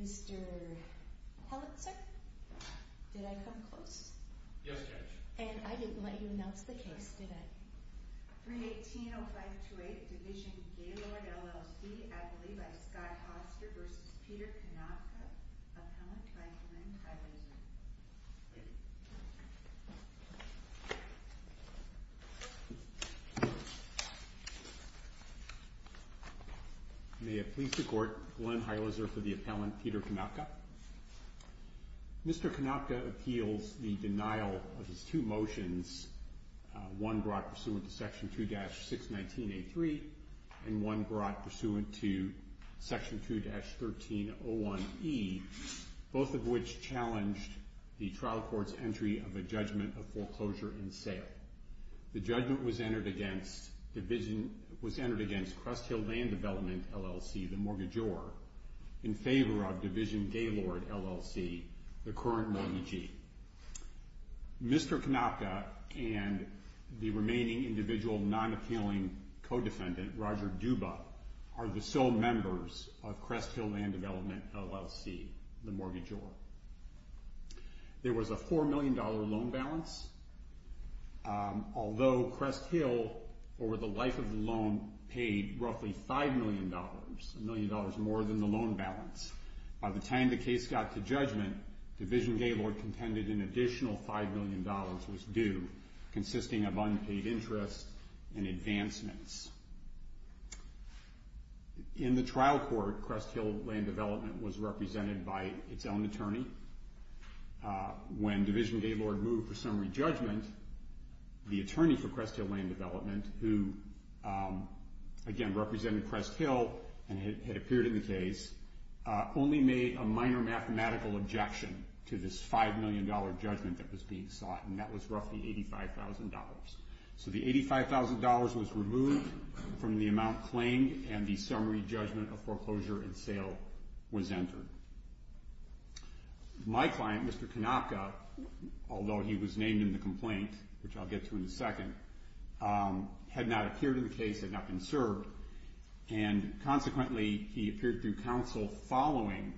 Mr. Hellitzer, did I come close? Yes, Judge. And I didn't let you announce the case, did I? 318-0528 Division-Gaylord, LLC Appellee by Scott Hoster v. Peter Konopka Appellant by Glenn Heilitzer May it please the Court, Glenn Heilitzer for the appellant, Peter Konopka. Mr. Konopka appeals the denial of his two motions, one brought pursuant to Section 2-619A3 and one brought pursuant to Section 2-1301E, both of which challenged the trial court's entry of a judgment of foreclosure and sale. The judgment was entered against Crest Hill Land Development, LLC, the mortgagor, in favor of Division-Gaylord, LLC, the current mortgagee. Mr. Konopka and the remaining individual non-appealing co-defendant, Roger Duba, are the sole members of Crest Hill Land Development, LLC, the mortgagor. There was a $4 million loan balance. Although Crest Hill, over the life of the loan, paid roughly $5 million, a million dollars more than the loan balance, by the time the case got to judgment, Division-Gaylord contended an additional $5 million was due, consisting of unpaid interest and advancements. In the trial court, Crest Hill Land Development was represented by its own attorney. When Division-Gaylord moved for summary judgment, the attorney for Crest Hill Land Development, who, again, represented Crest Hill and had appeared in the case, only made a minor mathematical objection to this $5 million judgment that was being sought, and that was roughly $85,000. So the $85,000 was removed from the amount claimed, and the summary judgment of foreclosure and sale was entered. My client, Mr. Konopka, although he was named in the complaint, which I'll get to in a second, had not appeared in the case, had not been served, and consequently he appeared through counsel following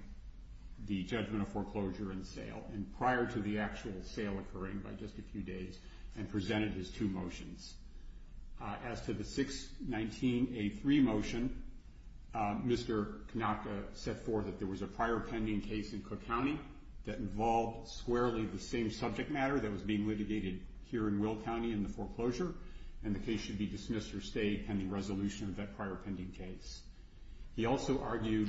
the judgment of foreclosure and sale, and prior to the actual sale occurring by just a few days, and presented his two motions. As to the 619A3 motion, Mr. Konopka set forth that there was a prior pending case in Cook County that involved squarely the same subject matter that was being litigated here in Will County in the foreclosure, and the case should be dismissed or stay pending resolution of that prior pending case. He also argued,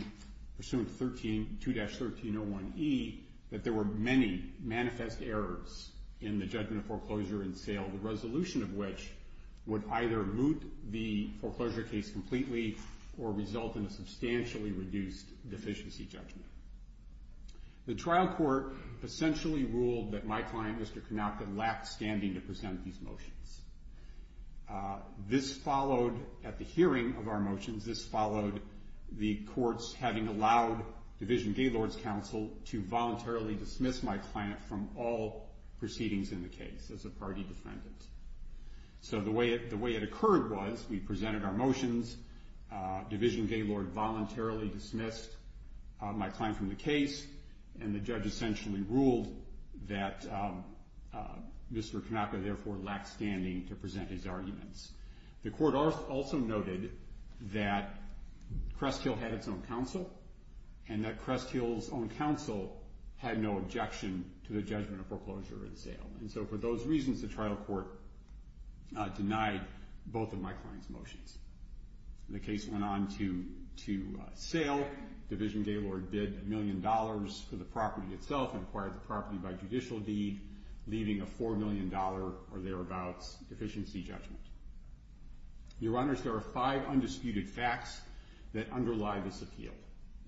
pursuant to 2-1301E, that there were many manifest errors in the judgment of foreclosure and sale, the resolution of which would either moot the foreclosure case completely or result in a substantially reduced deficiency judgment. The trial court essentially ruled that my client, Mr. Konopka, lacked standing to present these motions. This followed, at the hearing of our motions, this followed the courts having allowed Division Gaylords' Counsel to voluntarily dismiss my client from all proceedings in the case as a party defendant. So the way it occurred was we presented our motions, Division Gaylord voluntarily dismissed my client from the case, and the judge essentially ruled that Mr. Konopka therefore lacked standing to present his arguments. The court also noted that Cresthill had its own counsel, and that Cresthill's own counsel had no objection to the judgment of foreclosure and sale, and so for those reasons the trial court denied both of my client's motions. The case went on to sale, Division Gaylord bid a million dollars for the property itself and acquired the property by judicial deed, leaving a $4 million or thereabouts deficiency judgment. Your Honors, there are five undisputed facts that underlie this appeal,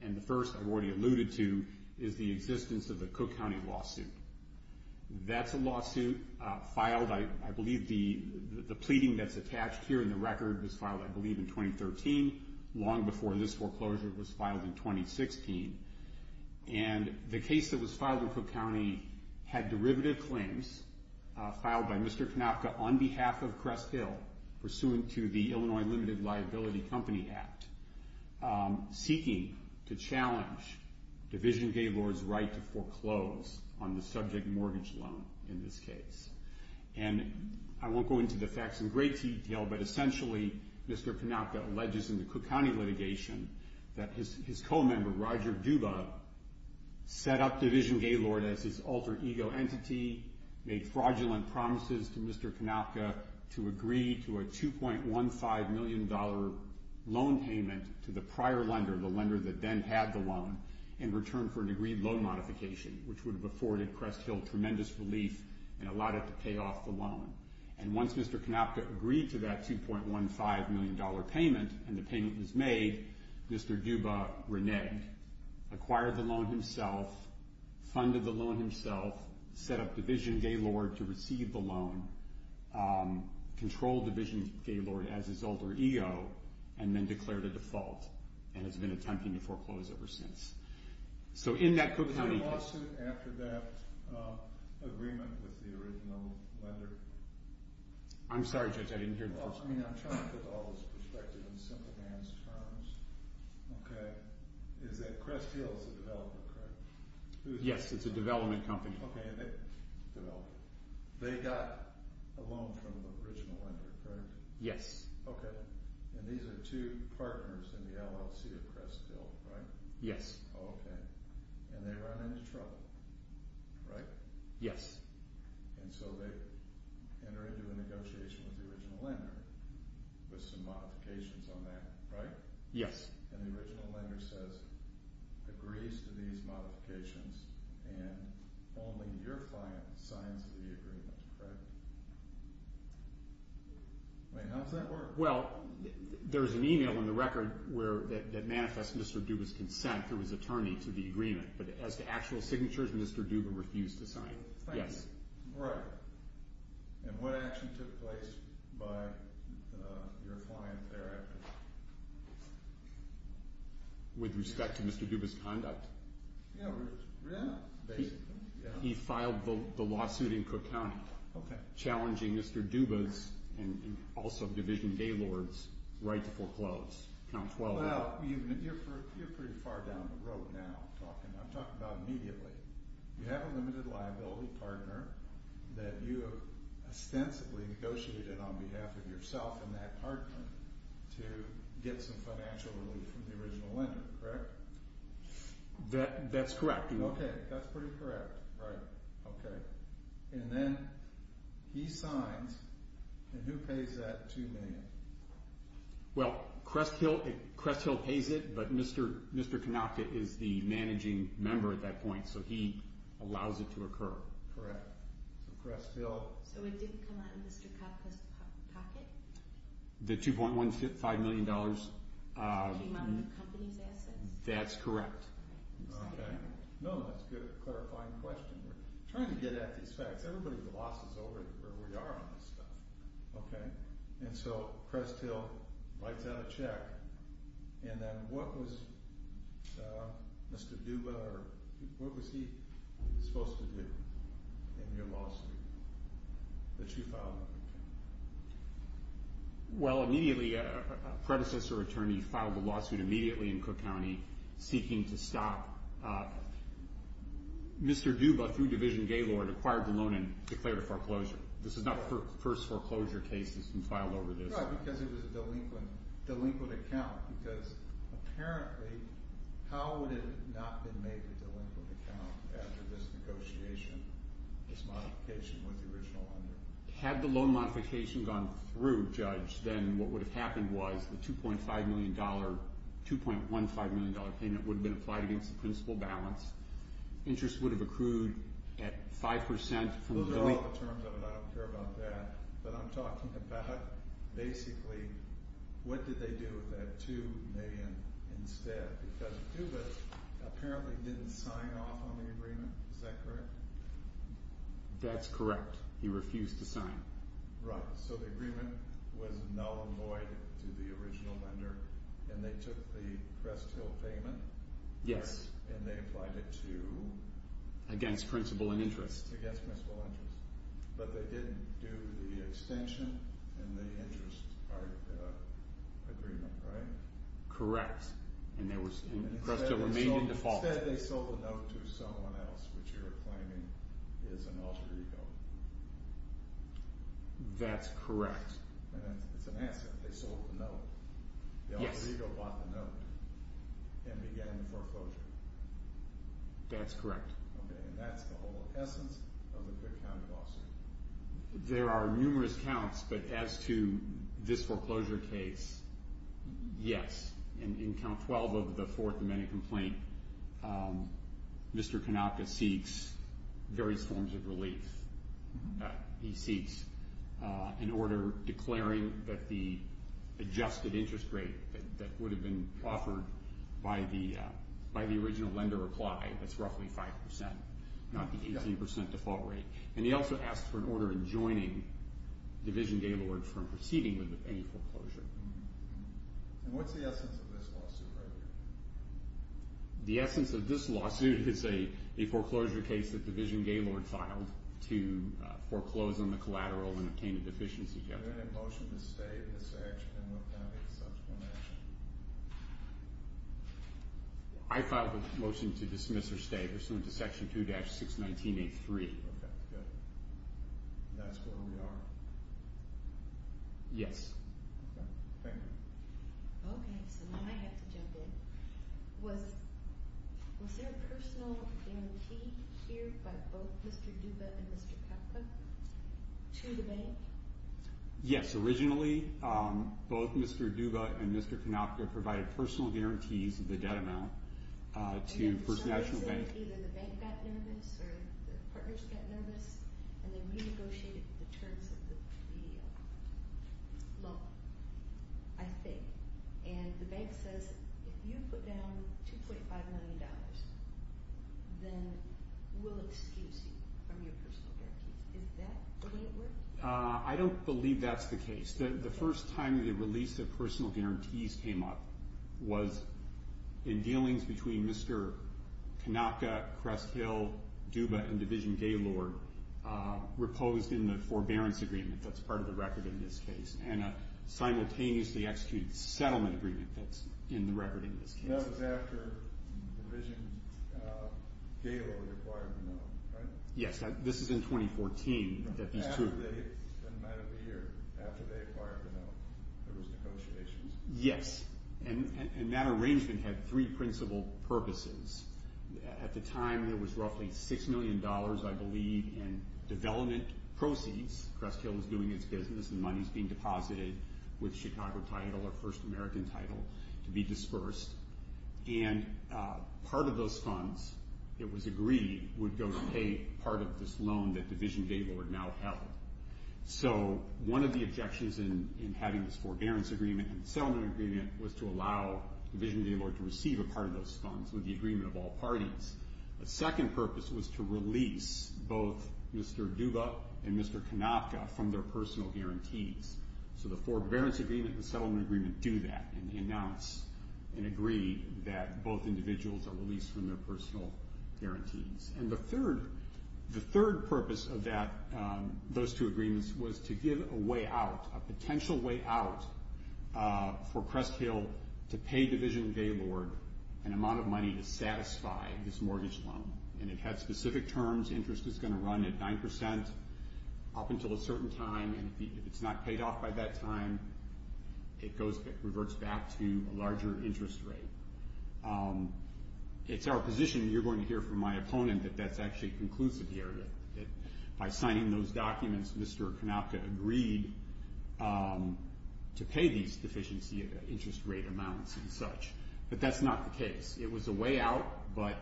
and the first I've already alluded to is the existence of the Cook County lawsuit. That's a lawsuit filed, I believe, the pleading that's attached here in the record was filed, I believe, in 2013, long before this foreclosure was filed in 2016. And the case that was filed in Cook County had derivative claims filed by Mr. Konopka on behalf of Cresthill, pursuant to the Illinois Limited Liability Company Act, seeking to challenge Division Gaylord's right to foreclose on the subject mortgage loan in this case. And I won't go into the facts in great detail, but essentially Mr. Konopka alleges in the Cook County litigation that his co-member, Roger Duba, set up Division Gaylord as his alter ego entity, made fraudulent promises to Mr. Konopka to agree to a $2.15 million loan payment to the prior lender, the lender that then had the loan, in return for an agreed loan modification, which would have afforded Cresthill tremendous relief and allowed it to pay off the loan. And once Mr. Konopka agreed to that $2.15 million payment, and the payment was made, Mr. Duba reneged, acquired the loan himself, funded the loan himself, set up Division Gaylord to receive the loan, controlled Division Gaylord as his alter ego, and then declared a default, and has been attempting to foreclose ever since. So in that Cook County case... Was there a lawsuit after that agreement with the original lender? I'm sorry, Judge, I didn't hear the first part. Well, I mean, I'm trying to put all this perspective in simple man's terms. Okay. Is that Cresthill is a developer, correct? Yes, it's a development company. Okay. They got a loan from the original lender, correct? Yes. Okay. And these are two partners in the LLC of Cresthill, right? Yes. Okay. And they run into trouble, right? Yes. And so they enter into a negotiation with the original lender with some modifications on that, right? Yes. And the original lender says, agrees to these modifications, and only your client signs the agreement, correct? I mean, how does that work? Well, there's an email in the record that manifests Mr. Duba's consent through his attorney to the agreement, but as to actual signatures, Mr. Duba refused to sign. Thank you. Yes. Right. And what action took place by your client thereafter? With respect to Mr. Duba's conduct. Yeah, basically. He filed the lawsuit in Cook County... Okay. ...challenging Mr. Duba's and also Division Gaylord's right to foreclose. Well, you're pretty far down the road now. I'm talking about immediately. You have a limited liability partner that you have ostensibly negotiated on behalf of yourself and that partner to get some financial relief from the original lender, correct? That's correct. Okay. That's pretty correct. Right. Okay. And then he signs, and who pays that $2 million? Well, Crest Hill pays it, but Mr. Konopka is the managing member at that point, so he allows it to occur. Correct. So Crest Hill... So it did come out of Mr. Koppa's pocket? The $2.15 million... Came out of the company's assets? That's correct. Okay. No, that's a good clarifying question. We're trying to get at these facts. Everybody's losses over where we are on this stuff. Okay? And so Crest Hill writes out a check, and then what was Mr. Duba or what was he supposed to do in your lawsuit that you filed? Well, immediately, a predecessor attorney filed a lawsuit immediately in Cook County seeking to stop Mr. Duba through Division Gaylord, acquired the loan, and declared a foreclosure. This is not the first foreclosure case that's been filed over this. Right, because it was a delinquent account, because apparently, how would it not have been made a delinquent account after this negotiation, this modification with the original lender? Had the loan modification gone through, Judge, then what would have happened was the $2.15 million payment would have been applied against the principal balance. Interest would have accrued at 5%. Those are all the terms of it. I don't care about that. But I'm talking about, basically, what did they do with that $2 million instead? Because Duba apparently didn't sign off on the agreement. Is that correct? That's correct. He refused to sign. Right, so the agreement was null and void to the original lender, and they took the Crest Hill payment, and they applied it to? Against principal and interest. Against principal and interest. But they didn't do the extension and the interest part of the agreement, right? Correct, and Crest Hill remained in default. Instead, they sold the note to someone else, which you're claiming is an alter ego. That's correct. It's an answer. They sold the note. The alter ego bought the note and began the foreclosure. That's correct. Okay, and that's the whole essence of a good county lawsuit. There are numerous counts, but as to this foreclosure case, yes. In count 12 of the Fourth Amendment complaint, Mr. Kanaka seeks various forms of relief. He seeks an order declaring that the adjusted interest rate that would have been offered by the original lender apply. That's roughly 5%, not the 18% default rate. And he also asks for an order enjoining Division Gaylord from proceeding with any foreclosure. And what's the essence of this lawsuit right here? The essence of this lawsuit is a foreclosure case that Division Gaylord filed to foreclose on the collateral and obtain a deficiency judgment. Are there any motions to stay in this action and what kind of a subsequent action? I filed a motion to dismiss or stay pursuant to Section 2-61983. Okay, good. And that's where we are? Yes. Okay, thank you. Okay, so now I have to jump in. Was there a personal guarantee here by both Mr. Duba and Mr. Kanaka to the bank? Yes. Originally, both Mr. Duba and Mr. Kanaka provided personal guarantees of the debt amount to First National Bank. Either the bank got nervous or the partners got nervous, and they renegotiated the terms of the law, I think. And the bank says, if you put down $2.5 million, then we'll excuse you from your personal guarantees. Is that the way it worked? I don't believe that's the case. The first time the release of personal guarantees came up was in dealings between Mr. Kanaka, Crest Hill, Duba, and Division Gaylord, reposed in the forbearance agreement that's part of the record in this case, and a simultaneously executed settlement agreement that's in the record in this case. That was after Division Gaylord acquired the loan, right? Yes, this is in 2014. It's been about a year after they acquired the loan. There was negotiations. Yes, and that arrangement had three principal purposes. At the time, there was roughly $6 million, I believe, in development proceeds. Crest Hill is doing its business, and money is being deposited with Chicago title or First American title to be dispersed. And part of those funds that was agreed would go to pay part of this loan that Division Gaylord now held. So one of the objections in having this forbearance agreement and settlement agreement was to allow Division Gaylord to receive a part of those funds with the agreement of all parties. The second purpose was to release both Mr. Duba and Mr. Kanaka from their personal guarantees. So the forbearance agreement and the settlement agreement do that and announce and agree that both individuals are released from their personal guarantees. And the third purpose of those two agreements was to give a way out, a potential way out for Crest Hill to pay Division Gaylord an amount of money to satisfy this mortgage loan. And it had specific terms. Interest is going to run at 9% up until a certain time, and if it's not paid off by that time, it reverts back to a larger interest rate. It's our position, and you're going to hear from my opponent, that that's actually conclusive here, that by signing those documents, Mr. Kanaka agreed to pay these deficiency interest rate amounts and such. But that's not the case. It was a way out, but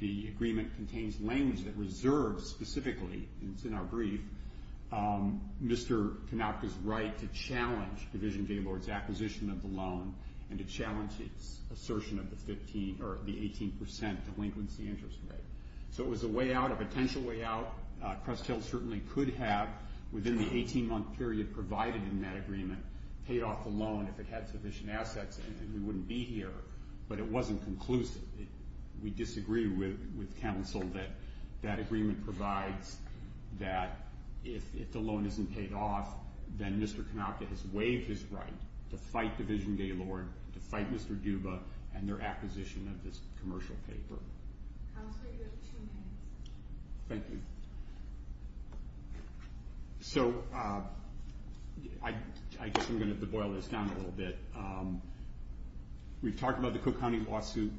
the agreement contains language that reserves specifically, and it's in our brief, Mr. Kanaka's right to challenge Division Gaylord's acquisition of the loan and to challenge its assertion of the 18% delinquency interest rate. So it was a way out, a potential way out. Crest Hill certainly could have, within the 18-month period provided in that agreement, paid off the loan if it had sufficient assets, and we wouldn't be here. But it wasn't conclusive. We disagree with counsel that that agreement provides that if the loan isn't paid off, then Mr. Kanaka has waived his right to fight Division Gaylord, to fight Mr. Duba, and their acquisition of this commercial paper. Counselor, you have two minutes. Thank you. So I guess I'm going to have to boil this down a little bit. We've talked about the Cook County lawsuit.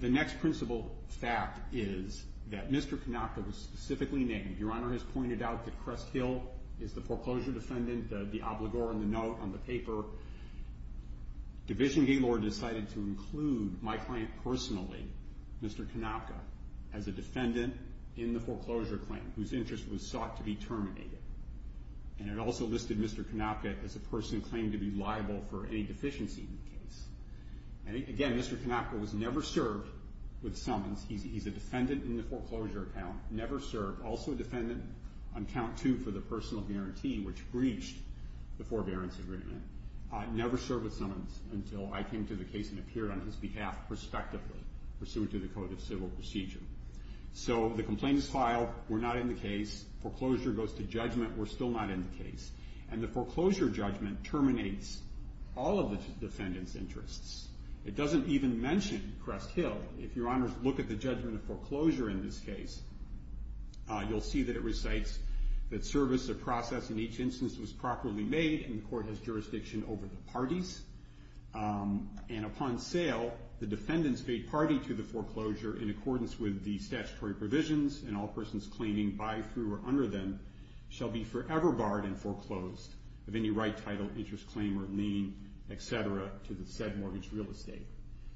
The next principal fact is that Mr. Kanaka was specifically named. Your Honor has pointed out that Crest Hill is the foreclosure defendant, the obligor on the note, on the paper. Division Gaylord decided to include my client personally, Mr. Kanaka, as a defendant in the foreclosure claim whose interest was sought to be terminated. And it also listed Mr. Kanaka as a person claimed to be liable for any deficiency in the case. Again, Mr. Kanaka was never served with summons. He's a defendant in the foreclosure account, never served, also a defendant on count two for the personal guarantee, which breached the forbearance agreement. Never served with summons until I came to the case and appeared on his behalf prospectively, pursuant to the Code of Civil Procedure. So the complaint is filed. We're not in the case. Foreclosure goes to judgment. We're still not in the case. And the foreclosure judgment terminates all of the defendant's interests. It doesn't even mention Crest Hill. If Your Honors look at the judgment of foreclosure in this case, you'll see that it recites that service or process in each instance was properly made, and the court has jurisdiction over the parties. And upon sale, the defendants paid party to the foreclosure in accordance with the statutory provisions, and all persons claiming by, through, or under them shall be forever barred and foreclosed of any right title, interest claim, or lien, et cetera, to the said mortgage real estate.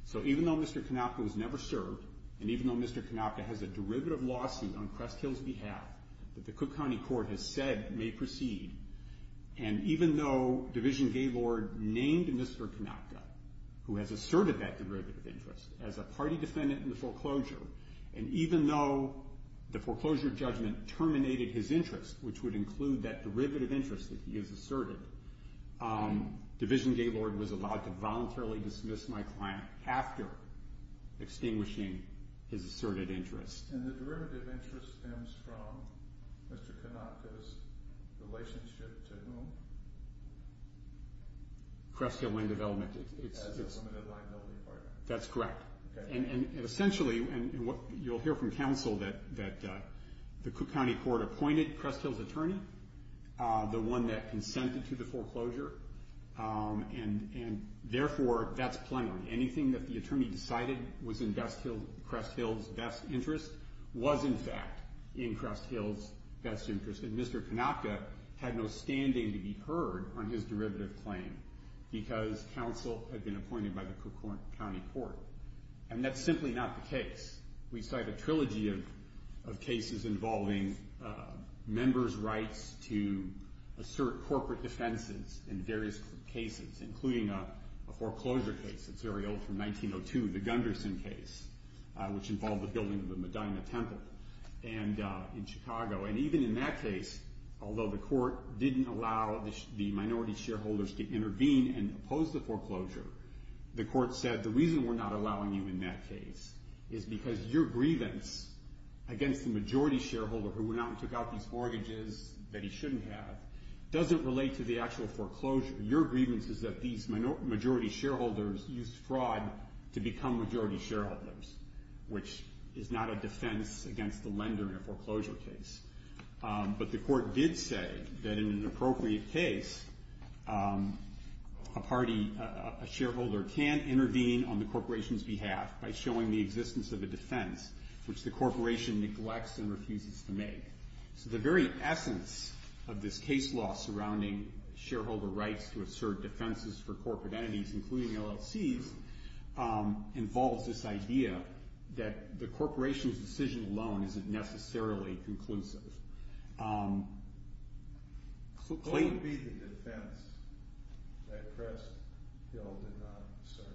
So even though Mr. Kanaka was never served, and even though Mr. Kanaka has a derivative lawsuit on Crest Hill's behalf that the Cook County Court has said may proceed, and even though Division Gaylord named Mr. Kanaka, who has asserted that derivative interest, as a party defendant in the foreclosure, and even though the foreclosure judgment terminated his interest, which would include that derivative interest that he has asserted, Division Gaylord was allowed to voluntarily dismiss my client after extinguishing his asserted interest. And the derivative interest stems from Mr. Kanaka's relationship to whom? Crest Hill Land Development. As a limited liability partner. That's correct. Okay. And essentially, and you'll hear from counsel that the Cook County Court appointed Crest Hill's attorney, the one that consented to the foreclosure, and therefore, that's plenary. Anything that the attorney decided was in Crest Hill's best interest was, in fact, in Crest Hill's best interest. And Mr. Kanaka had no standing to be heard on his derivative claim because counsel had been appointed by the Cook County Court. And that's simply not the case. We cite a trilogy of cases involving members' rights to assert corporate defenses in various cases, including a foreclosure case that's very old from 1902, the Gunderson case, which involved the building of the Medina Temple in Chicago. And even in that case, although the court didn't allow the minority shareholders to intervene and oppose the foreclosure, the court said the reason we're not allowing you in that case is because your grievance against the majority shareholder who went out and took out these mortgages that he shouldn't have doesn't relate to the actual foreclosure. Your grievance is that these majority shareholders used fraud to become majority shareholders, which is not a defense against the lender in a foreclosure case. But the court did say that in an appropriate case, a shareholder can intervene on the corporation's behalf by showing the existence of a defense which the corporation neglects and refuses to make. So the very essence of this case law surrounding shareholder rights to assert defenses for corporate entities, including LLCs, involves this idea that the corporation's decision alone isn't necessarily conclusive. What would be the defense that Crest Hill did not assert?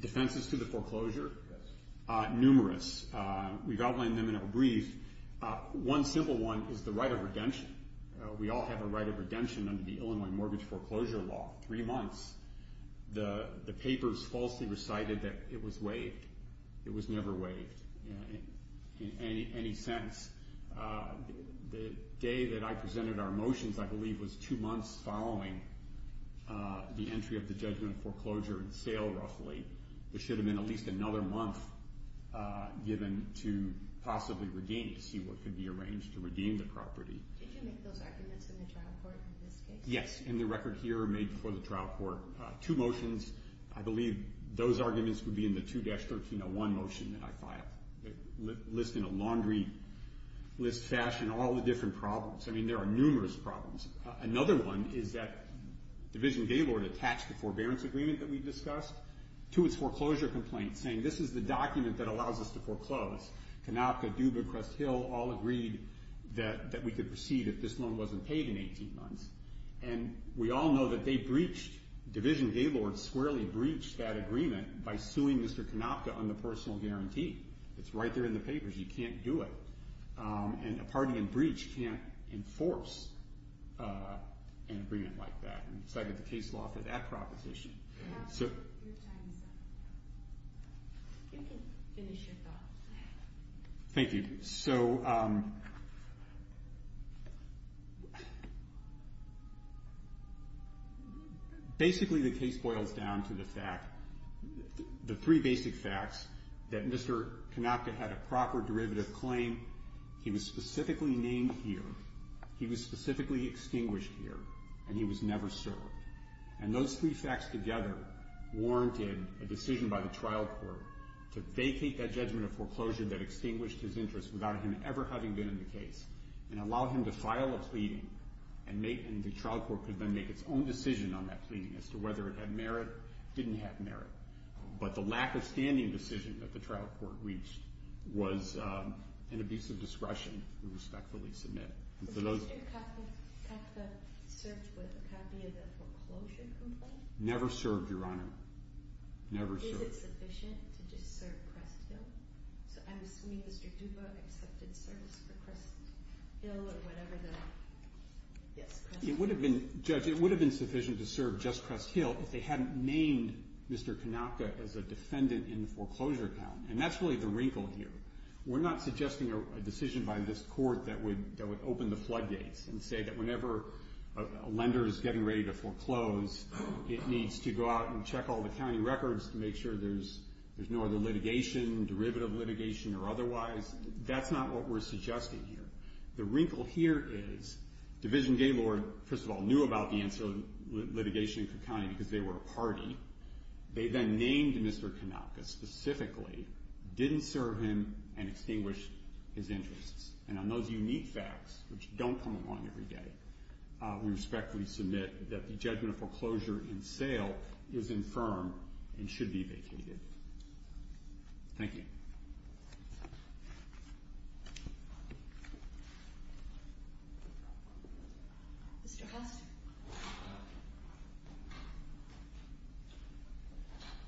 Defenses to the foreclosure? Yes. Numerous. We've outlined them in a brief. One simple one is the right of redemption. We all have a right of redemption under the Illinois Mortgage Foreclosure Law. Three months, the papers falsely recited that it was waived. It was never waived in any sense. The day that I presented our motions, I believe, was two months following the entry of the judgment of foreclosure and sale, roughly. There should have been at least another month given to possibly redeem, to see what could be arranged to redeem the property. Did you make those arguments in the trial court in this case? Yes. In the record here made before the trial court, two motions. I believe those arguments would be in the 2-1301 motion that I filed. It lists in a laundry list fashion all the different problems. I mean, there are numerous problems. Another one is that Division Gaylord attached the forbearance agreement that we discussed to its foreclosure complaint, saying this is the document that allows us to foreclose. Kanopka, Dubuque, Hill all agreed that we could proceed if this loan wasn't paid in 18 months. And we all know that they breached, Division Gaylord squarely breached that agreement by suing Mr. Kanopka on the personal guarantee. It's right there in the papers. You can't do it. And a party in breach can't enforce an agreement like that. So I get the case law for that proposition. Your time is up. You can finish your thoughts. Thank you. So basically the case boils down to the fact, the three basic facts, that Mr. Kanopka had a proper derivative claim, he was specifically named here, he was specifically extinguished here, and he was never served. And those three facts together warranted a decision by the trial court to vacate that judgment of foreclosure that extinguished his interest without him ever having been in the case and allow him to file a pleading and the trial court could then make its own decision on that pleading as to whether it had merit, didn't have merit. But the lack of standing decision that the trial court reached was an abuse of discretion to respectfully submit. Was Mr. Kanopka served with a copy of the foreclosure complaint? Never served, Your Honor. Never served. Is it sufficient to just serve Crest Hill? So I'm assuming Mr. Duva accepted service for Crest Hill or whatever the... It would have been, Judge, it would have been sufficient to serve just Crest Hill if they hadn't named Mr. Kanopka as a defendant in the foreclosure account. And that's really the wrinkle here. We're not suggesting a decision by this court that would open the floodgates and say that whenever a lender is getting ready to foreclose, it needs to go out and check all the county records to make sure there's no other litigation, derivative litigation or otherwise. That's not what we're suggesting here. The wrinkle here is Division Gaylord, first of all, knew about the ancillary litigation in Cook County because they were a party. They then named Mr. Kanopka specifically, didn't serve him, and extinguished his interests. And on those unique facts, which don't come along every day, we respectfully submit that the judgment of foreclosure in sale is infirm and should be vacated. Thank you. Mr. Hastert.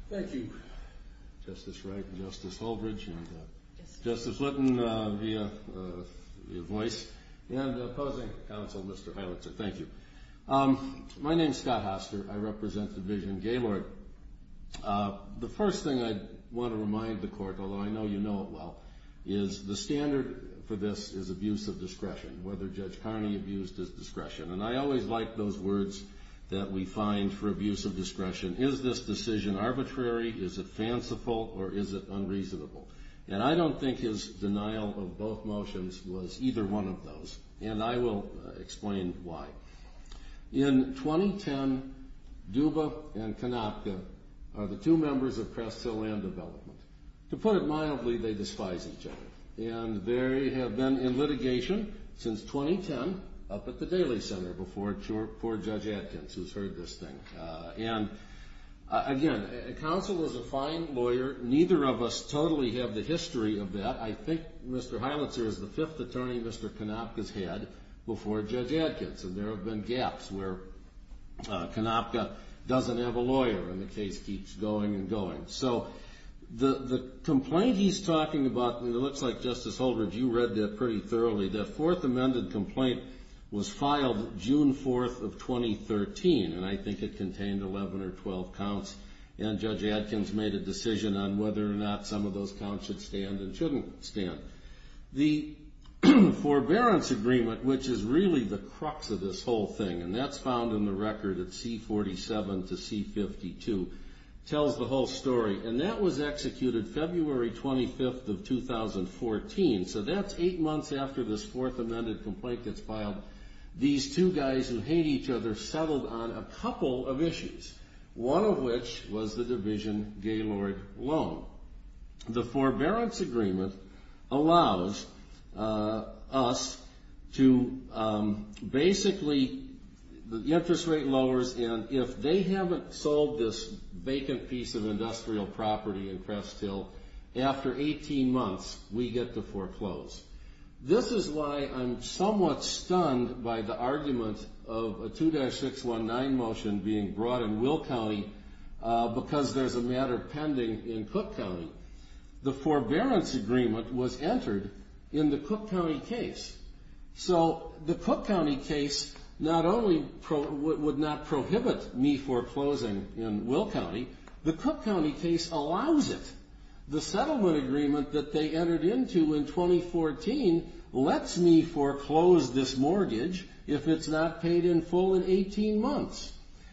Thank you, Justice Wright and Justice Holdridge and Justice Litton via voice and opposing counsel, Mr. Heilitzer. Thank you. My name is Scott Hastert. I represent Division Gaylord. The first thing I want to remind the Court, although I know you know it well, is the standard for this is abuse of discretion, whether Judge Carney abused his discretion. And I always like those words that we find for abuse of discretion. Is this decision arbitrary, is it fanciful, or is it unreasonable? And I don't think his denial of both motions was either one of those, and I will explain why. In 2010, Duba and Kanopka are the two members of Crest Hill Land Development. To put it mildly, they despise each other, and they have been in litigation since 2010 up at the Daly Center before Judge Adkins, who's heard this thing. And, again, counsel is a fine lawyer. Neither of us totally have the history of that. I think Mr. Heilitzer is the fifth attorney Mr. Kanopka's had before Judge Adkins, and there have been gaps where Kanopka doesn't have a lawyer, and the case keeps going and going. So the complaint he's talking about, and it looks like, Justice Holdred, you read that pretty thoroughly. The Fourth Amendment complaint was filed June 4th of 2013, and I think it contained 11 or 12 counts, and Judge Adkins made a decision on whether or not some of those counts should stand and shouldn't stand. The Forbearance Agreement, which is really the crux of this whole thing, and that's found in the record at C-47 to C-52, tells the whole story, and that was executed February 25th of 2014. So that's eight months after this Fourth Amendment complaint gets filed. These two guys who hate each other settled on a couple of issues, one of which was the Division Gaylord Loan. The Forbearance Agreement allows us to basically, the interest rate lowers, and if they haven't sold this vacant piece of industrial property in Crest Hill after 18 months, we get to foreclose. This is why I'm somewhat stunned by the argument of a 2-619 motion being brought in Will County because there's a matter pending in Cook County. The Forbearance Agreement was entered in the Cook County case. So the Cook County case not only would not prohibit me foreclosing in Will County, the Cook County case allows it. The settlement agreement that they entered into in 2014 lets me foreclose this mortgage if it's not paid in full in 18 months,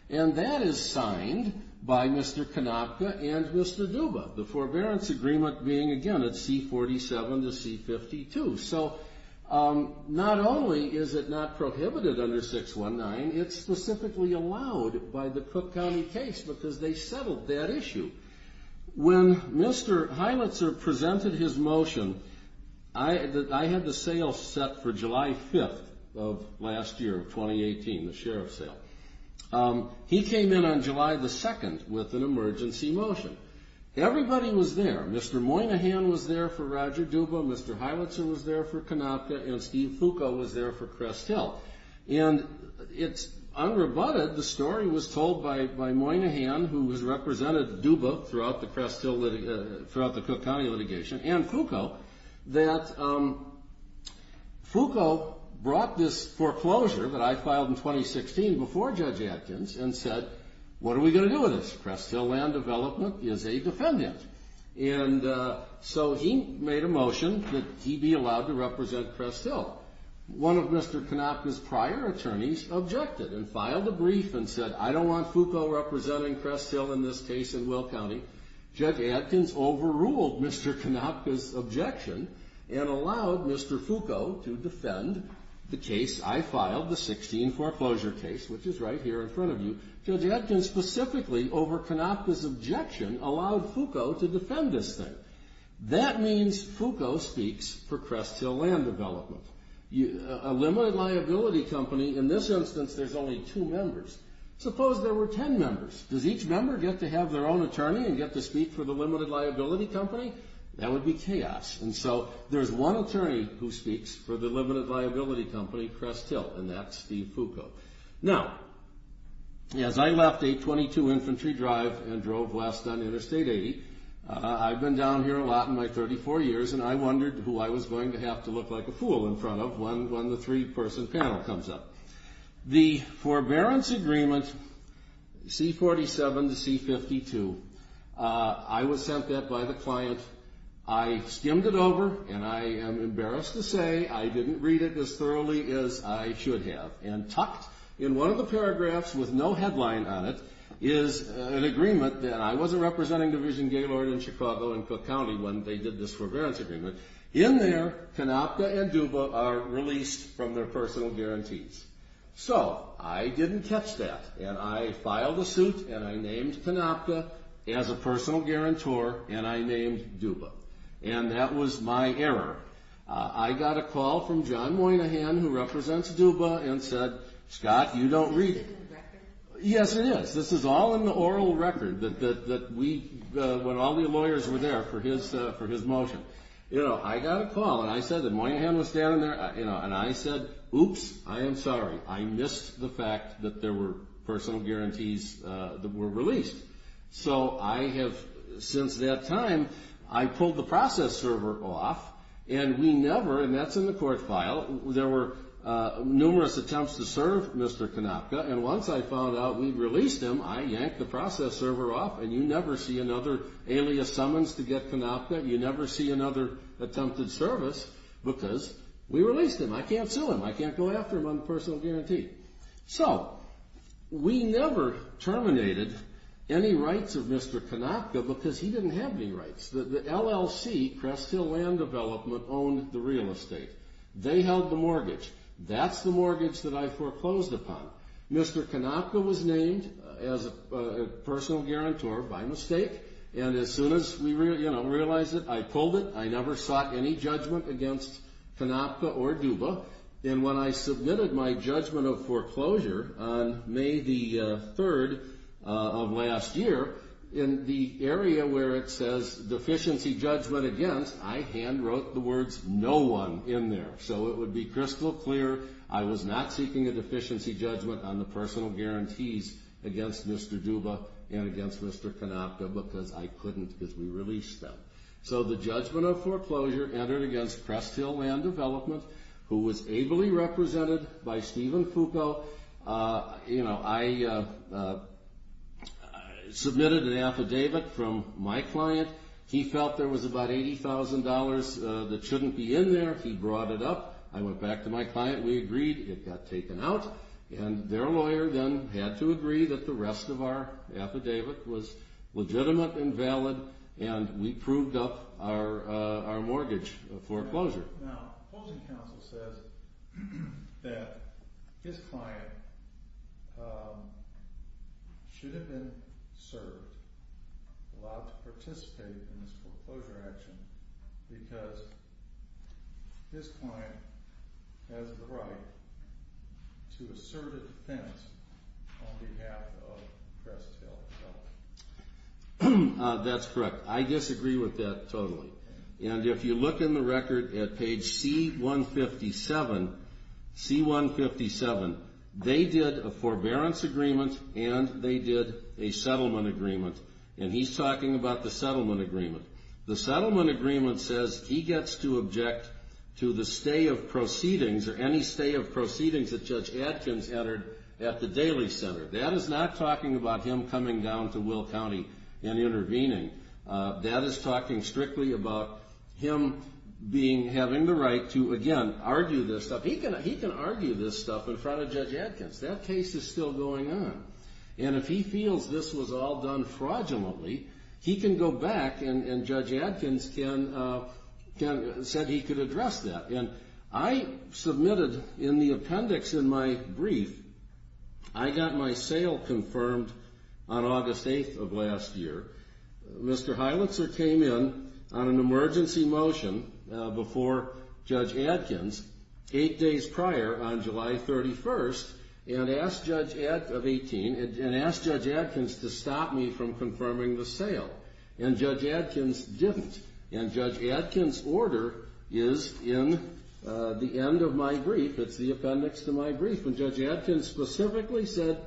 and that is signed by Mr. Konopka and Mr. Duba, the Forbearance Agreement being, again, at C-47 to C-52. So not only is it not prohibited under 619, it's specifically allowed by the Cook County case because they settled that issue. When Mr. Heilitzer presented his motion, I had the sale set for July 5th of last year, 2018, the sheriff's sale. He came in on July 2nd with an emergency motion. Everybody was there. Mr. Moynihan was there for Roger Duba, Mr. Heilitzer was there for Konopka, and Steve Foucault was there for Crest Hill. And it's unrebutted, the story was told by Moynihan, who has represented Duba throughout the Cook County litigation, and Foucault, that Foucault brought this foreclosure that I filed in 2016 before Judge Atkins and said, what are we going to do with this? Crest Hill land development is a defendant. And so he made a motion that he be allowed to represent Crest Hill. One of Mr. Konopka's prior attorneys objected and filed a brief and said, I don't want Foucault representing Crest Hill in this case in Will County. Judge Atkins overruled Mr. Konopka's objection and allowed Mr. Foucault to defend the case I filed, the 16 foreclosure case, which is right here in front of you. Judge Atkins specifically, over Konopka's objection, allowed Foucault to defend this thing. That means Foucault speaks for Crest Hill land development. A limited liability company, in this instance, there's only two members. Suppose there were ten members. Does each member get to have their own attorney and get to speak for the limited liability company? That would be chaos. And so there's one attorney who speaks for the limited liability company, Crest Hill, and that's Steve Foucault. Now, as I left a .22 infantry drive and drove west on Interstate 80, I've been down here a lot in my 34 years, and I wondered who I was going to have to look like a fool in front of when the three-person panel comes up. The forbearance agreement, C-47 to C-52, I was sent that by the client. I skimmed it over, and I am embarrassed to say I didn't read it as thoroughly as I should have. And tucked in one of the paragraphs with no headline on it is an agreement that I wasn't representing Division Gaylord in Chicago and Cook County when they did this forbearance agreement. In there, Canopka and Duba are released from their personal guarantees. So I didn't catch that, and I filed a suit, and I named Canopka as a personal guarantor, and I named Duba. And that was my error. I got a call from John Moynihan, who represents Duba, and said, Scott, you don't read it. Yes, it is. This is all in the oral record that we, when all the lawyers were there for his motion. I got a call, and I said that Moynihan was standing there, and I said, Oops, I am sorry. I missed the fact that there were personal guarantees that were released. So I have, since that time, I pulled the process server off, and we never, and that's in the court file, there were numerous attempts to serve Mr. Canopka, and once I found out we released him, I yanked the process server off, and you never see another alias summons to get Canopka, and you never see another attempted service because we released him. I can't sue him. I can't go after him on the personal guarantee. So we never terminated any rights of Mr. Canopka because he didn't have any rights. The LLC, Crest Hill Land Development, owned the real estate. They held the mortgage. That's the mortgage that I foreclosed upon. Mr. Canopka was named as a personal guarantor by mistake, and as soon as we realized it, I pulled it. I never sought any judgment against Canopka or Duba, and when I submitted my judgment of foreclosure on May the 3rd of last year, in the area where it says deficiency judgment against, I hand wrote the words no one in there. So it would be crystal clear I was not seeking a deficiency judgment on the personal guarantees against Mr. Duba and against Mr. Canopka because I couldn't because we released them. So the judgment of foreclosure entered against Crest Hill Land Development, who was ably represented by Stephen Foucault. I submitted an affidavit from my client. He felt there was about $80,000 that shouldn't be in there. He brought it up. I went back to my client. We agreed. It got taken out, and their lawyer then had to agree that the rest of our affidavit was legitimate and valid, and we proved up our mortgage foreclosure. Now, closing counsel says that his client should have been served, allowed to participate in this foreclosure action because his client has the right to assert a defense on behalf of Crest Hill. That's correct. I disagree with that totally. And if you look in the record at page C-157, C-157, they did a forbearance agreement and they did a settlement agreement, and he's talking about the settlement agreement. The settlement agreement says he gets to object to the stay of proceedings or any stay of proceedings that Judge Adkins entered at the Daley Center. That is not talking about him coming down to Will County and intervening. That is talking strictly about him having the right to, again, argue this stuff. He can argue this stuff in front of Judge Adkins. That case is still going on. And if he feels this was all done fraudulently, he can go back and Judge Adkins said he could address that. And I submitted in the appendix in my brief, I got my sale confirmed on August 8th of last year. Mr. Heilitzer came in on an emergency motion before Judge Adkins eight days prior on July 31st of 18 and asked Judge Adkins to stop me from confirming the sale. And Judge Adkins didn't. And Judge Adkins' order is in the end of my brief. It's the appendix to my brief. And Judge Adkins specifically said,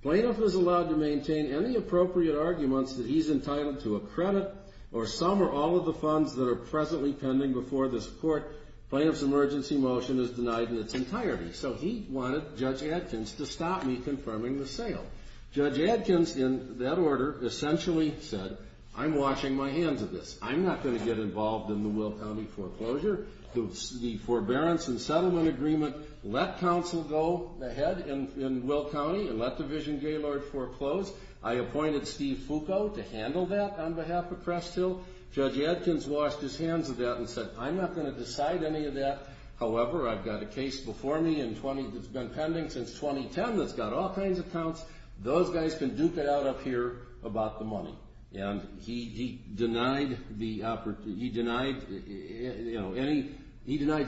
Plaintiff is allowed to maintain any appropriate arguments that he's entitled to a credit or some or all of the funds that are presently pending before this Court. Plaintiff's emergency motion is denied in its entirety. So he wanted Judge Adkins to stop me confirming the sale. Judge Adkins, in that order, essentially said, I'm washing my hands of this. I'm not going to get involved in the Will County foreclosure. The Forbearance and Settlement Agreement let counsel go ahead in Will County and let Division Gaylord foreclose. I appointed Steve Foucault to handle that on behalf of Crest Hill. Judge Adkins washed his hands of that and said, I'm not going to decide any of that. However, I've got a case before me that's been pending since 2010 that's got all kinds of counts. Those guys can duke it out up here about the money. And he denied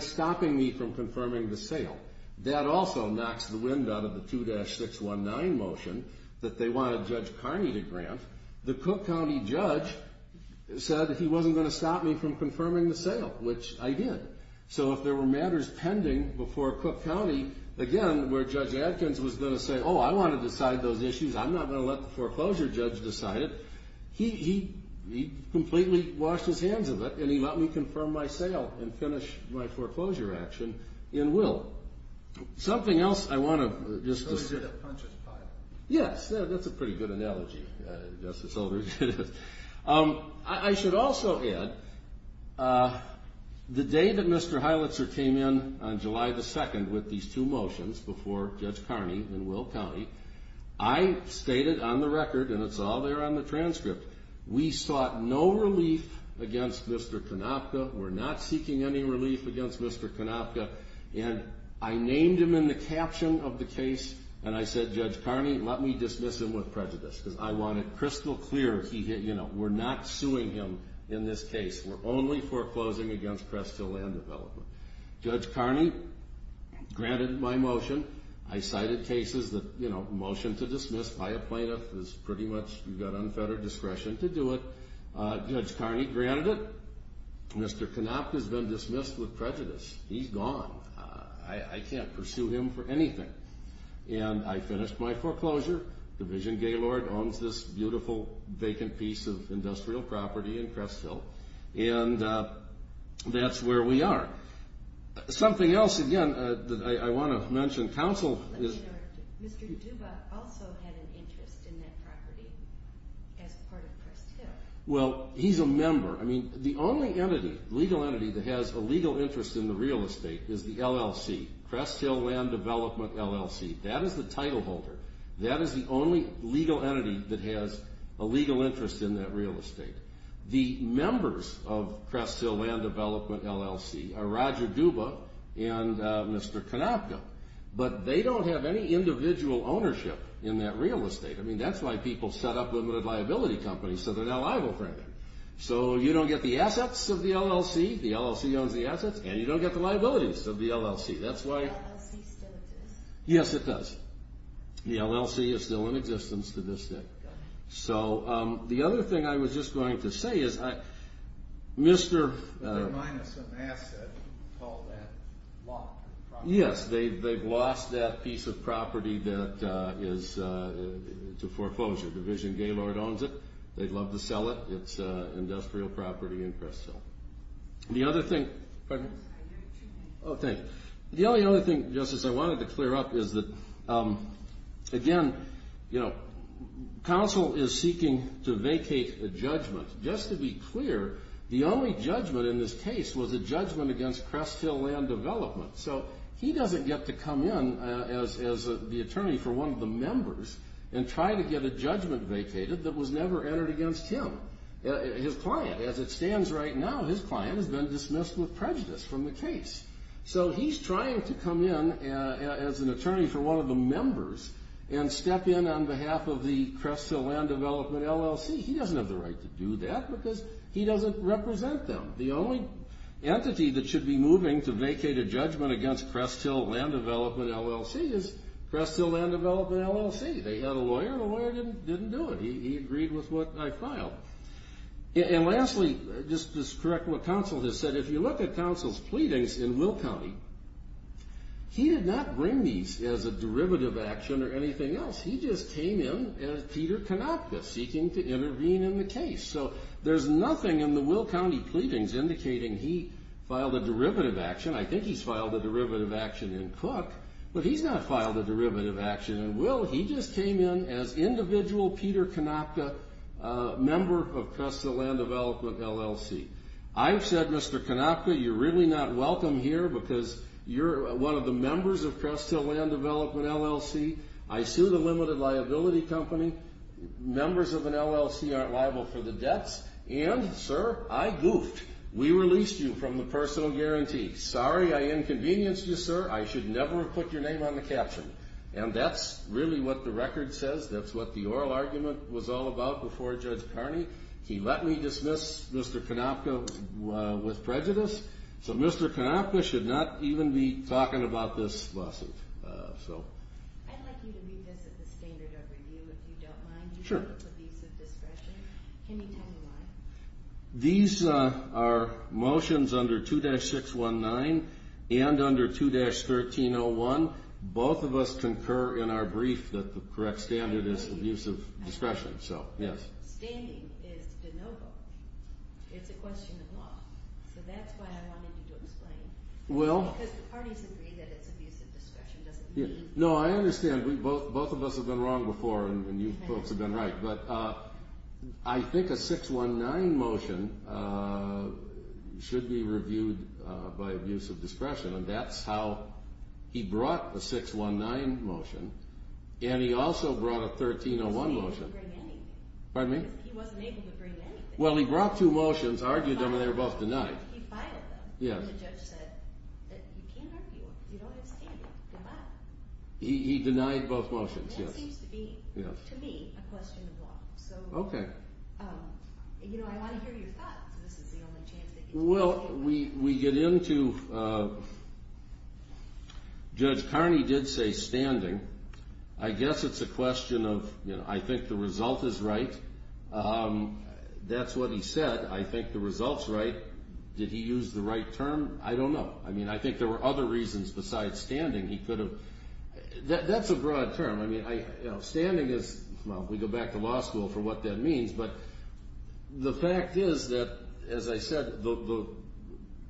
stopping me from confirming the sale. That also knocks the wind out of the 2-619 motion that they wanted Judge Carney to grant. The Cook County judge said that he wasn't going to stop me from confirming the sale, which I did. So if there were matters pending before Cook County, again, where Judge Adkins was going to say, oh, I want to decide those issues. I'm not going to let the foreclosure judge decide it. He completely washed his hands of it, and he let me confirm my sale and finish my foreclosure action in Will. Something else I want to just discuss. So he did a punches pile. Yes, that's a pretty good analogy, Justice Oldridge. I should also add, the day that Mr. Heilitzer came in on July the 2nd with these two motions before Judge Carney in Will County, I stated on the record, and it's all there on the transcript, we sought no relief against Mr. Konopka. We're not seeking any relief against Mr. Konopka. And I named him in the caption of the case, and I said, Judge Carney, let me dismiss him with prejudice because I want it crystal clear, you know, we're not suing him in this case. We're only foreclosing against Crest Hill Land Development. Judge Carney granted my motion. I cited cases that, you know, a motion to dismiss by a plaintiff is pretty much, you've got unfettered discretion to do it. Judge Carney granted it. Mr. Konopka has been dismissed with prejudice. He's gone. I can't pursue him for anything. And I finished my foreclosure. Division Gaylord owns this beautiful vacant piece of industrial property in Crest Hill, and that's where we are. Something else, again, that I want to mention. Counsel is... Mr. Duba also had an interest in that property as part of Crest Hill. Well, he's a member. I mean, the only entity, legal entity, that has a legal interest in the real estate is the LLC, Crest Hill Land Development LLC. That is the title holder. That is the only legal entity that has a legal interest in that real estate. The members of Crest Hill Land Development LLC are Roger Duba and Mr. Konopka, but they don't have any individual ownership in that real estate. I mean, that's why people set up limited liability companies, so they're not liable for anything. So you don't get the assets of the LLC. The LLC owns the assets, and you don't get the liabilities of the LLC. That's why... Does the LLC still exist? Yes, it does. The LLC is still in existence to this day. So the other thing I was just going to say is Mr. They're minus an asset called that lot. Yes, they've lost that piece of property that is to foreclosure. Division Gaylord owns it. They'd love to sell it. It's industrial property in Crest Hill. The other thing... Pardon me? Oh, thank you. The only other thing, Justice, I wanted to clear up is that, again, you know, counsel is seeking to vacate a judgment. Just to be clear, the only judgment in this case was a judgment against Crest Hill Land Development. So he doesn't get to come in as the attorney for one of the members and try to get a judgment vacated that was never entered against him, his client. As it stands right now, his client has been dismissed with prejudice from the case. So he's trying to come in as an attorney for one of the members and step in on behalf of the Crest Hill Land Development LLC. He doesn't have the right to do that because he doesn't represent them. The only entity that should be moving to vacate a judgment against Crest Hill Land Development LLC is Crest Hill Land Development LLC. They had a lawyer, and the lawyer didn't do it. He agreed with what I filed. And lastly, just to correct what counsel has said, if you look at counsel's pleadings in Will County, he did not bring these as a derivative action or anything else. He just came in as Peter Konopka, seeking to intervene in the case. So there's nothing in the Will County pleadings indicating he filed a derivative action. I think he's filed a derivative action in Cook, but he's not filed a derivative action in Will. He just came in as individual Peter Konopka, member of Crest Hill Land Development LLC. I've said, Mr. Konopka, you're really not welcome here because you're one of the members of Crest Hill Land Development LLC. I sued a limited liability company. Members of an LLC aren't liable for the debts. And, sir, I goofed. We released you from the personal guarantee. Sorry I inconvenienced you, sir. I should never have put your name on the caption. And that's really what the record says. That's what the oral argument was all about before Judge Carney. He let me dismiss Mr. Konopka with prejudice. So Mr. Konopka should not even be talking about this lawsuit. I'd like you to read this at the standard of review, if you don't mind. Sure. Can you tell me why? These are motions under 2-619 and under 2-1301. Both of us concur in our brief that the correct standard is abusive discretion. Standing is de novo. It's a question of law. So that's why I wanted you to explain. Because the parties agree that it's abusive discretion. No, I understand. Both of us have been wrong before, and you folks have been right. But I think a 619 motion should be reviewed by abusive discretion, and that's how he brought a 619 motion, and he also brought a 1301 motion. He didn't bring anything. He wasn't able to bring anything. Well, he brought two motions, argued them, and they were both denied. He filed them, and the judge said that you can't argue them because you don't have standing. He denied both motions, yes. That seems to be, to me, a question of law. Okay. You know, I want to hear your thoughts. This is the only chance that you have. Well, we get into Judge Carney did say standing. I guess it's a question of, you know, I think the result is right. That's what he said. I think the result's right. Did he use the right term? I don't know. I mean, I think there were other reasons besides standing he could have. That's a broad term. I mean, standing is, well, we go back to law school for what that means, but the fact is that, as I said, the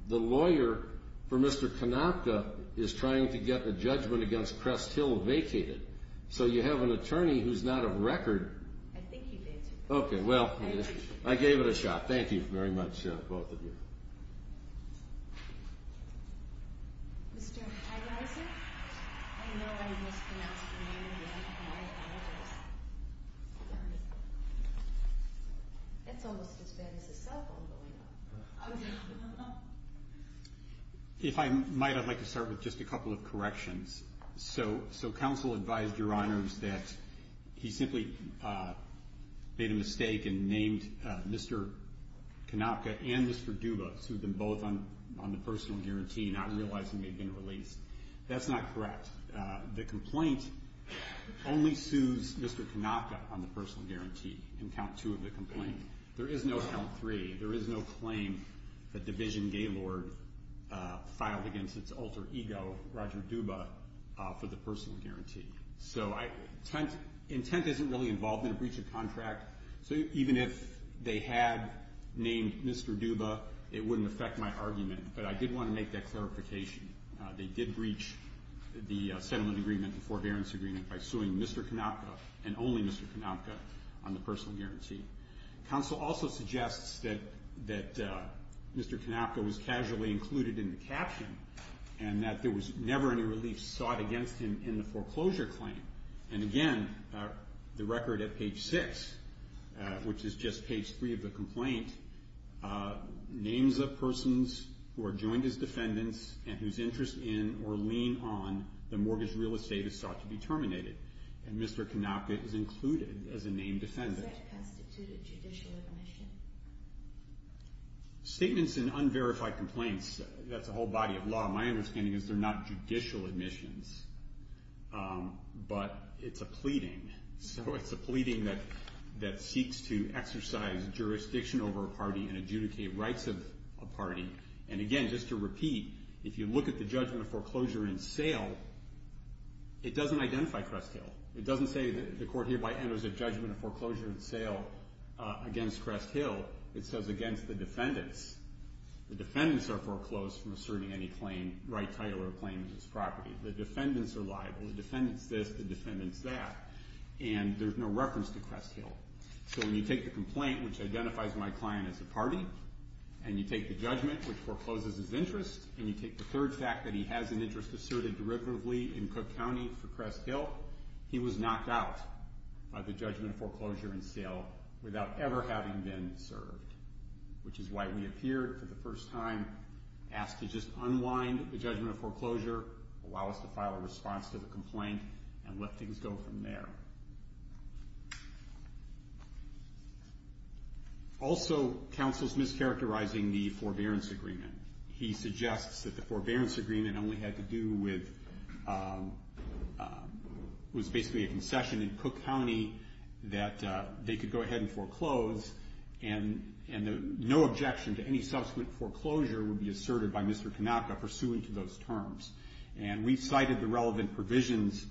lawyer for Mr. Konopka is trying to get the judgment against Crest Hill vacated. So you have an attorney who's not of record. I think he did. Okay, well, I gave it a shot. Thank you very much, both of you. Mr. Heideiser, I know I mispronounced your name, but I apologize. It's almost as bad as a cell phone going off. If I might, I'd like to start with just a couple of corrections. So counsel advised your honors that he simply made a mistake and named Mr. Konopka and Mr. Duba, sued them both on the personal guarantee, not realizing they'd been released. That's not correct. The complaint only sues Mr. Konopka on the personal guarantee in count two of the complaint. There is no count three. There is no claim that Division Gaylord filed against its alter ego, Roger Duba, for the personal guarantee. So intent isn't really involved in a breach of contract. So even if they had named Mr. Duba, it wouldn't affect my argument. But I did want to make that clarification. They did breach the settlement agreement, the forbearance agreement, by suing Mr. Konopka and only Mr. Konopka on the personal guarantee. Counsel also suggests that Mr. Konopka was casually included in the caption and that there was never any relief sought against him in the foreclosure claim. And again, the record at page six, which is just page three of the complaint, names of persons who are joined as defendants and whose interest in or lean on the mortgage real estate is sought to be terminated. And Mr. Konopka is included as a named defendant. What constitutes a judicial admission? Statements in unverified complaints, that's a whole body of law. My understanding is they're not judicial admissions, but it's a pleading. So it's a pleading that seeks to exercise jurisdiction over a party and adjudicate rights of a party. And again, just to repeat, if you look at the judgment of foreclosure in sale, it doesn't identify Cresthill. It doesn't say the court hereby enters a judgment of foreclosure in sale against Cresthill. It says against the defendants. The defendants are foreclosed from asserting any claim, right title or claim to this property. The defendants are liable. The defendant's this, the defendant's that. And there's no reference to Cresthill. So when you take the complaint, which identifies my client as a party, and you take the judgment, which forecloses his interest, and you take the third fact that he has an interest asserted derivatively in Cook County for Cresthill, he was knocked out of the judgment of foreclosure in sale without ever having been served, which is why we appeared for the first time, asked to just unwind the judgment of foreclosure, allow us to file a response to the complaint, and let things go from there. Also, counsel's mischaracterizing the forbearance agreement. He suggests that the forbearance agreement only had to do with was basically a concession in Cook County that they could go ahead and foreclose, and no objection to any subsequent foreclosure would be asserted by Mr. Kanaka pursuant to those terms. And we cited the relevant provisions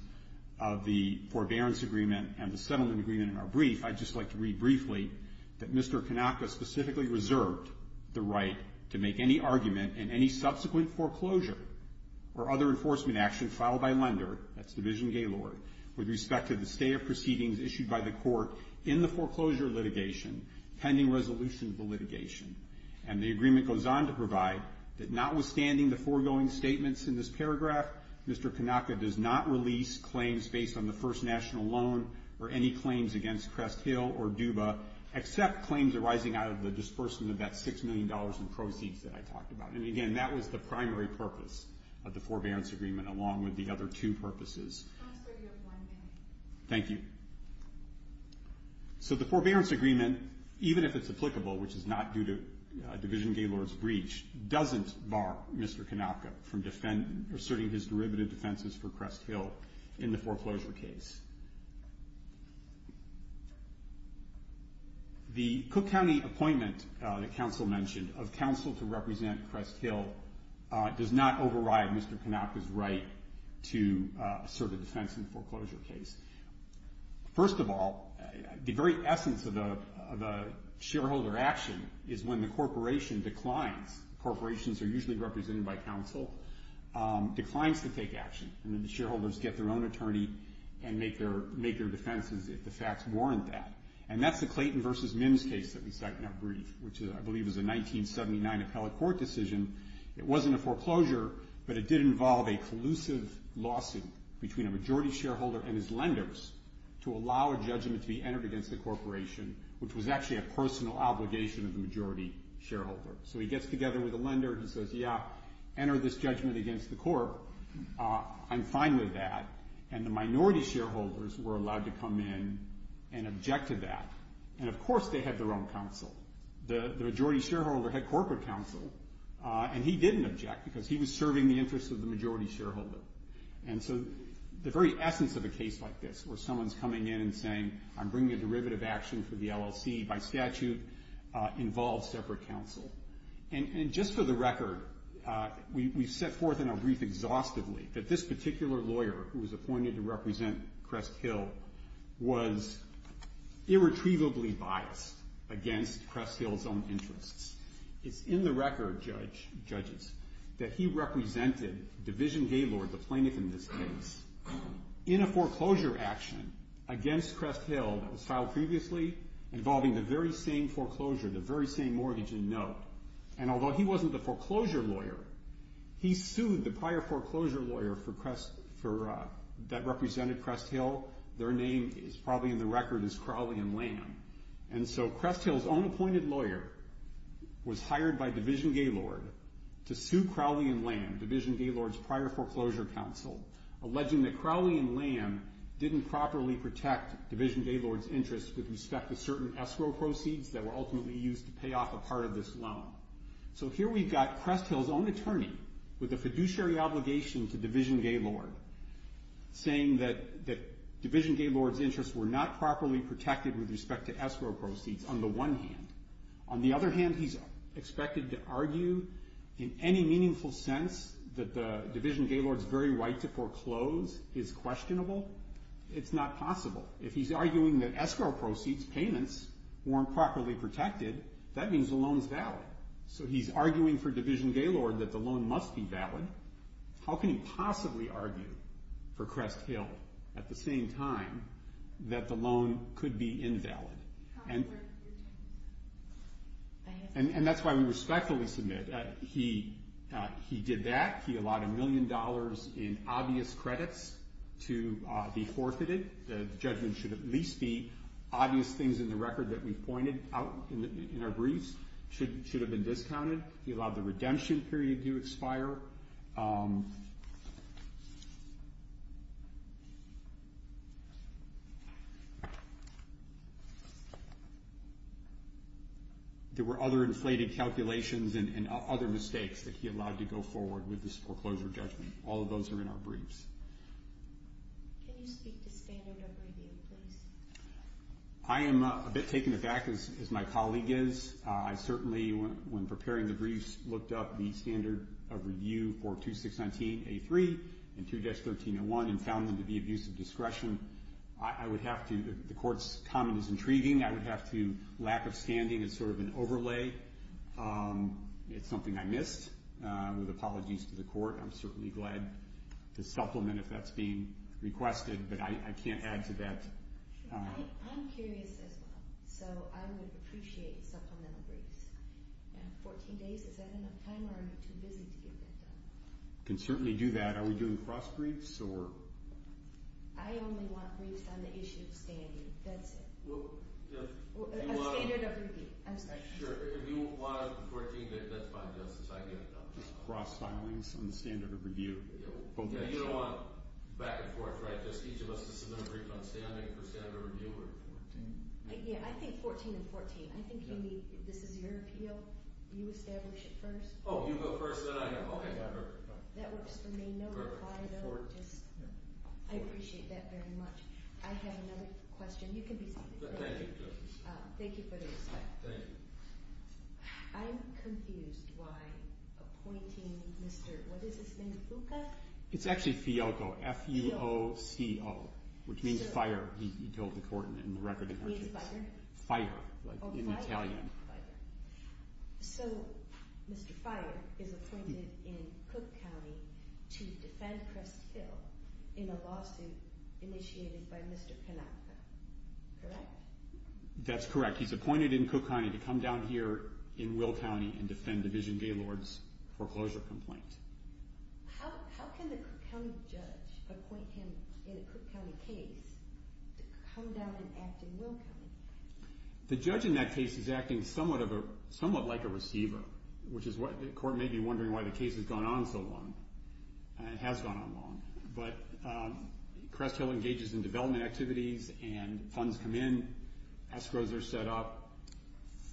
of the forbearance agreement and the settlement agreement in our brief. I'd just like to read briefly that Mr. Kanaka specifically reserved the right to make any argument in any subsequent foreclosure or other enforcement action filed by lender, that's Division Gaylord, with respect to the state of proceedings issued by the court in the foreclosure litigation, pending resolution of the litigation. And the agreement goes on to provide that notwithstanding the foregoing statements in this paragraph, Mr. Kanaka does not release claims based on the first national loan or any claims against Crest Hill or DUBA, except claims arising out of the dispersion of that $6 million in proceeds that I talked about. And, again, that was the primary purpose of the forbearance agreement, along with the other two purposes. I'm sorry, you have one minute. Thank you. So the forbearance agreement, even if it's applicable, which is not due to Division Gaylord's breach, doesn't bar Mr. Kanaka from asserting his derivative defenses for Crest Hill in the foreclosure case. The Cook County appointment that counsel mentioned of counsel to represent Crest Hill does not override Mr. Kanaka's right to assert a defense in the foreclosure case. First of all, the very essence of the shareholder action is when the corporation declines. Corporations are usually represented by counsel, declines to take action. And then the shareholders get their own attorney and make their defenses if the facts warrant that. And that's the Clayton v. Mims case that we cited in our brief, which I believe is a 1979 appellate court decision. It wasn't a foreclosure, but it did involve a collusive lawsuit between a majority shareholder and his lenders to allow a judgment to be entered against the corporation, which was actually a personal obligation of the majority shareholder. So he gets together with the lender. He says, yeah, enter this judgment against the court. I'm fine with that. And the minority shareholders were allowed to come in and object to that. And, of course, they had their own counsel. The majority shareholder had corporate counsel, and he didn't object because he was serving the interests of the majority shareholder. And so the very essence of a case like this where someone's coming in and saying, I'm bringing a derivative action for the LLC by statute involves separate counsel. And just for the record, we've set forth in our brief exhaustively that this particular lawyer who was appointed to represent Crest Hill was irretrievably biased against Crest Hill's own interests. It's in the record, judges, that he represented Division Gaylord, the plaintiff in this case, in a foreclosure action against Crest Hill that was filed previously involving the very same foreclosure, the very same mortgage in note. And although he wasn't the foreclosure lawyer, he sued the prior foreclosure lawyer that represented Crest Hill. Their name is probably in the record as Crowley and Lamb. And so Crest Hill's own appointed lawyer was hired by Division Gaylord to sue Crowley and Lamb, Division Gaylord's prior foreclosure counsel, alleging that Crowley and Lamb didn't properly protect Division Gaylord's interests with respect to certain escrow proceeds that were ultimately used to pay off a part of this loan. So here we've got Crest Hill's own attorney with a fiduciary obligation to Division Gaylord saying that Division Gaylord's interests were not properly protected with respect to escrow proceeds on the one hand. On the other hand, he's expected to argue in any meaningful sense that the Division Gaylord's very right to foreclose is questionable. It's not possible. If he's arguing that escrow proceeds payments weren't properly protected, that means the loan is valid. So he's arguing for Division Gaylord that the loan must be valid. How can he possibly argue for Crest Hill at the same time that the loan could be invalid? And that's why we respectfully submit he did that. He allowed a million dollars in obvious credits to be forfeited. The judgment should at least be obvious things in the record that we've pointed out in our briefs should have been discounted. He allowed the redemption period to expire. There were other inflated calculations and other mistakes that he allowed to go forward with this foreclosure judgment. All of those are in our briefs. Can you speak to standard of review, please? I am a bit taken aback, as my colleague is. I certainly, when preparing the briefs, looked up the standard of review for 2619A3 and 2-1301 and found them to be of use of discretion. I would have to. The Court's comment is intriguing. I would have to. Lack of standing is sort of an overlay. It's something I missed. With apologies to the Court, I'm certainly glad to supplement if that's being requested, but I can't add to that. I'm curious as well, so I would appreciate supplemental briefs. 14 days, is that enough time, or are you too busy to get that done? We can certainly do that. Are we doing cross-briefs, or? I only want briefs on the issue of standing. That's it. A standard of review. I'm sorry. Sure. If you want a 14-day, that's fine, Justice. I get it. Just cross-filings on the standard of review. You don't want back and forth, right? Just each of us to submit a brief on standing for standard of review? Yeah, I think 14 and 14. I think this is your appeal. You establish it first. Oh, you go first, then I go. Okay. That works for me. No reply, though. I appreciate that very much. I have another question. You can be seated. Thank you, Justice. Thank you for the respect. Thank you. I'm confused why appointing Mr. What is his name? Fuca? It's actually Fiocco, F-U-O-C-O, which means fire. He told the court in the record. It means fire? Fire, in Italian. Oh, fire. So, Mr. Fire is appointed in Cook County to defend Crest Hill in a lawsuit initiated by Mr. Panacca, correct? That's correct. He's appointed in Cook County to come down here in Will County and defend Division Gaylord's foreclosure complaint. How can the Cook County judge appoint him in a Cook County case to come down and act in Will County? The judge in that case is acting somewhat like a receiver, which is what the court may be wondering why the case has gone on so long. It has gone on long. But Crest Hill engages in development activities and funds come in. Escrows are set up.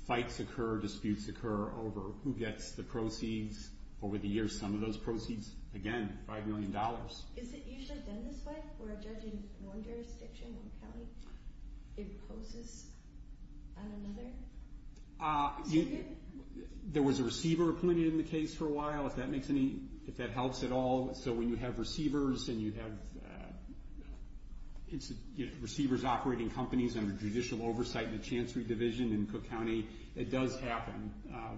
Fights occur. Disputes occur over who gets the proceeds over the years. Some of those proceeds, again, $5 million. Is it usually done this way, where a judge in one jurisdiction, Will County, imposes on another? There was a receiver appointed in the case for a while, if that helps at all. So when you have receivers and you have receivers operating companies under judicial oversight in the Chancery Division in Cook County, it does happen.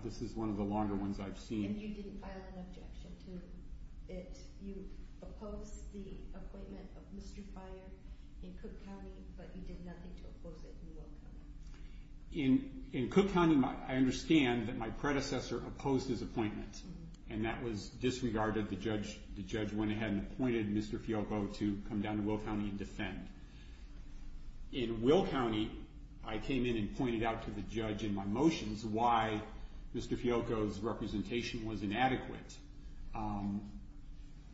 This is one of the longer ones I've seen. And you didn't file an objection to it. You opposed the appointment of Mr. Fire in Cook County, but you did nothing to oppose it in Will County. In Cook County, I understand that my predecessor opposed his appointment. And that was disregarded. The judge went ahead and appointed Mr. Fiocco to come down to Will County and defend. In Will County, I came in and pointed out to the judge in my motions why Mr. Fiocco's representation was inadequate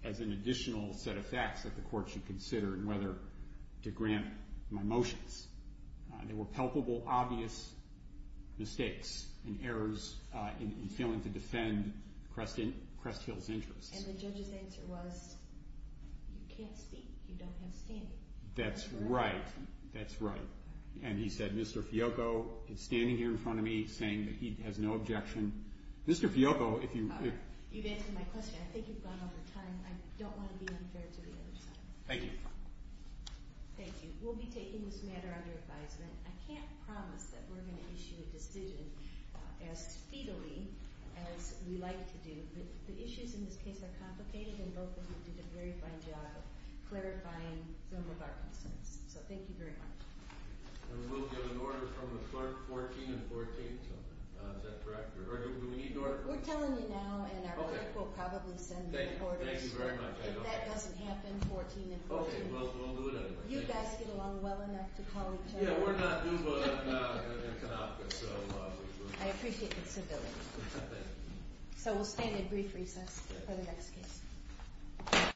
as an additional set of facts that the court should consider in whether to grant my motions. There were palpable, obvious mistakes and errors in failing to defend Crest Hill's interests. And the judge's answer was, you can't speak if you don't have standing. That's right. That's right. And he said, Mr. Fiocco is standing here in front of me saying that he has no objection. Mr. Fiocco, if you... You've answered my question. I think you've gone over time. I don't want to be unfair to the other side. Thank you. Thank you. We'll be taking this matter under advisement. I can't promise that we're going to issue a decision as speedily as we like to do. But the issues in this case are complicated, and both of you did a very fine job of clarifying some of our concerns. So thank you very much. And we will get an order from the clerk, 14 and 14. Is that correct? We're telling you now, and our clerk will probably send you an order. Thank you very much. If that doesn't happen, 14 and 14. Okay, well, we'll do it anyway. You guys get along well enough to call each other. Yeah, we're not new, but we're not going to be inconfident. I appreciate the civility. Thank you. So we'll stand at brief recess for the next case.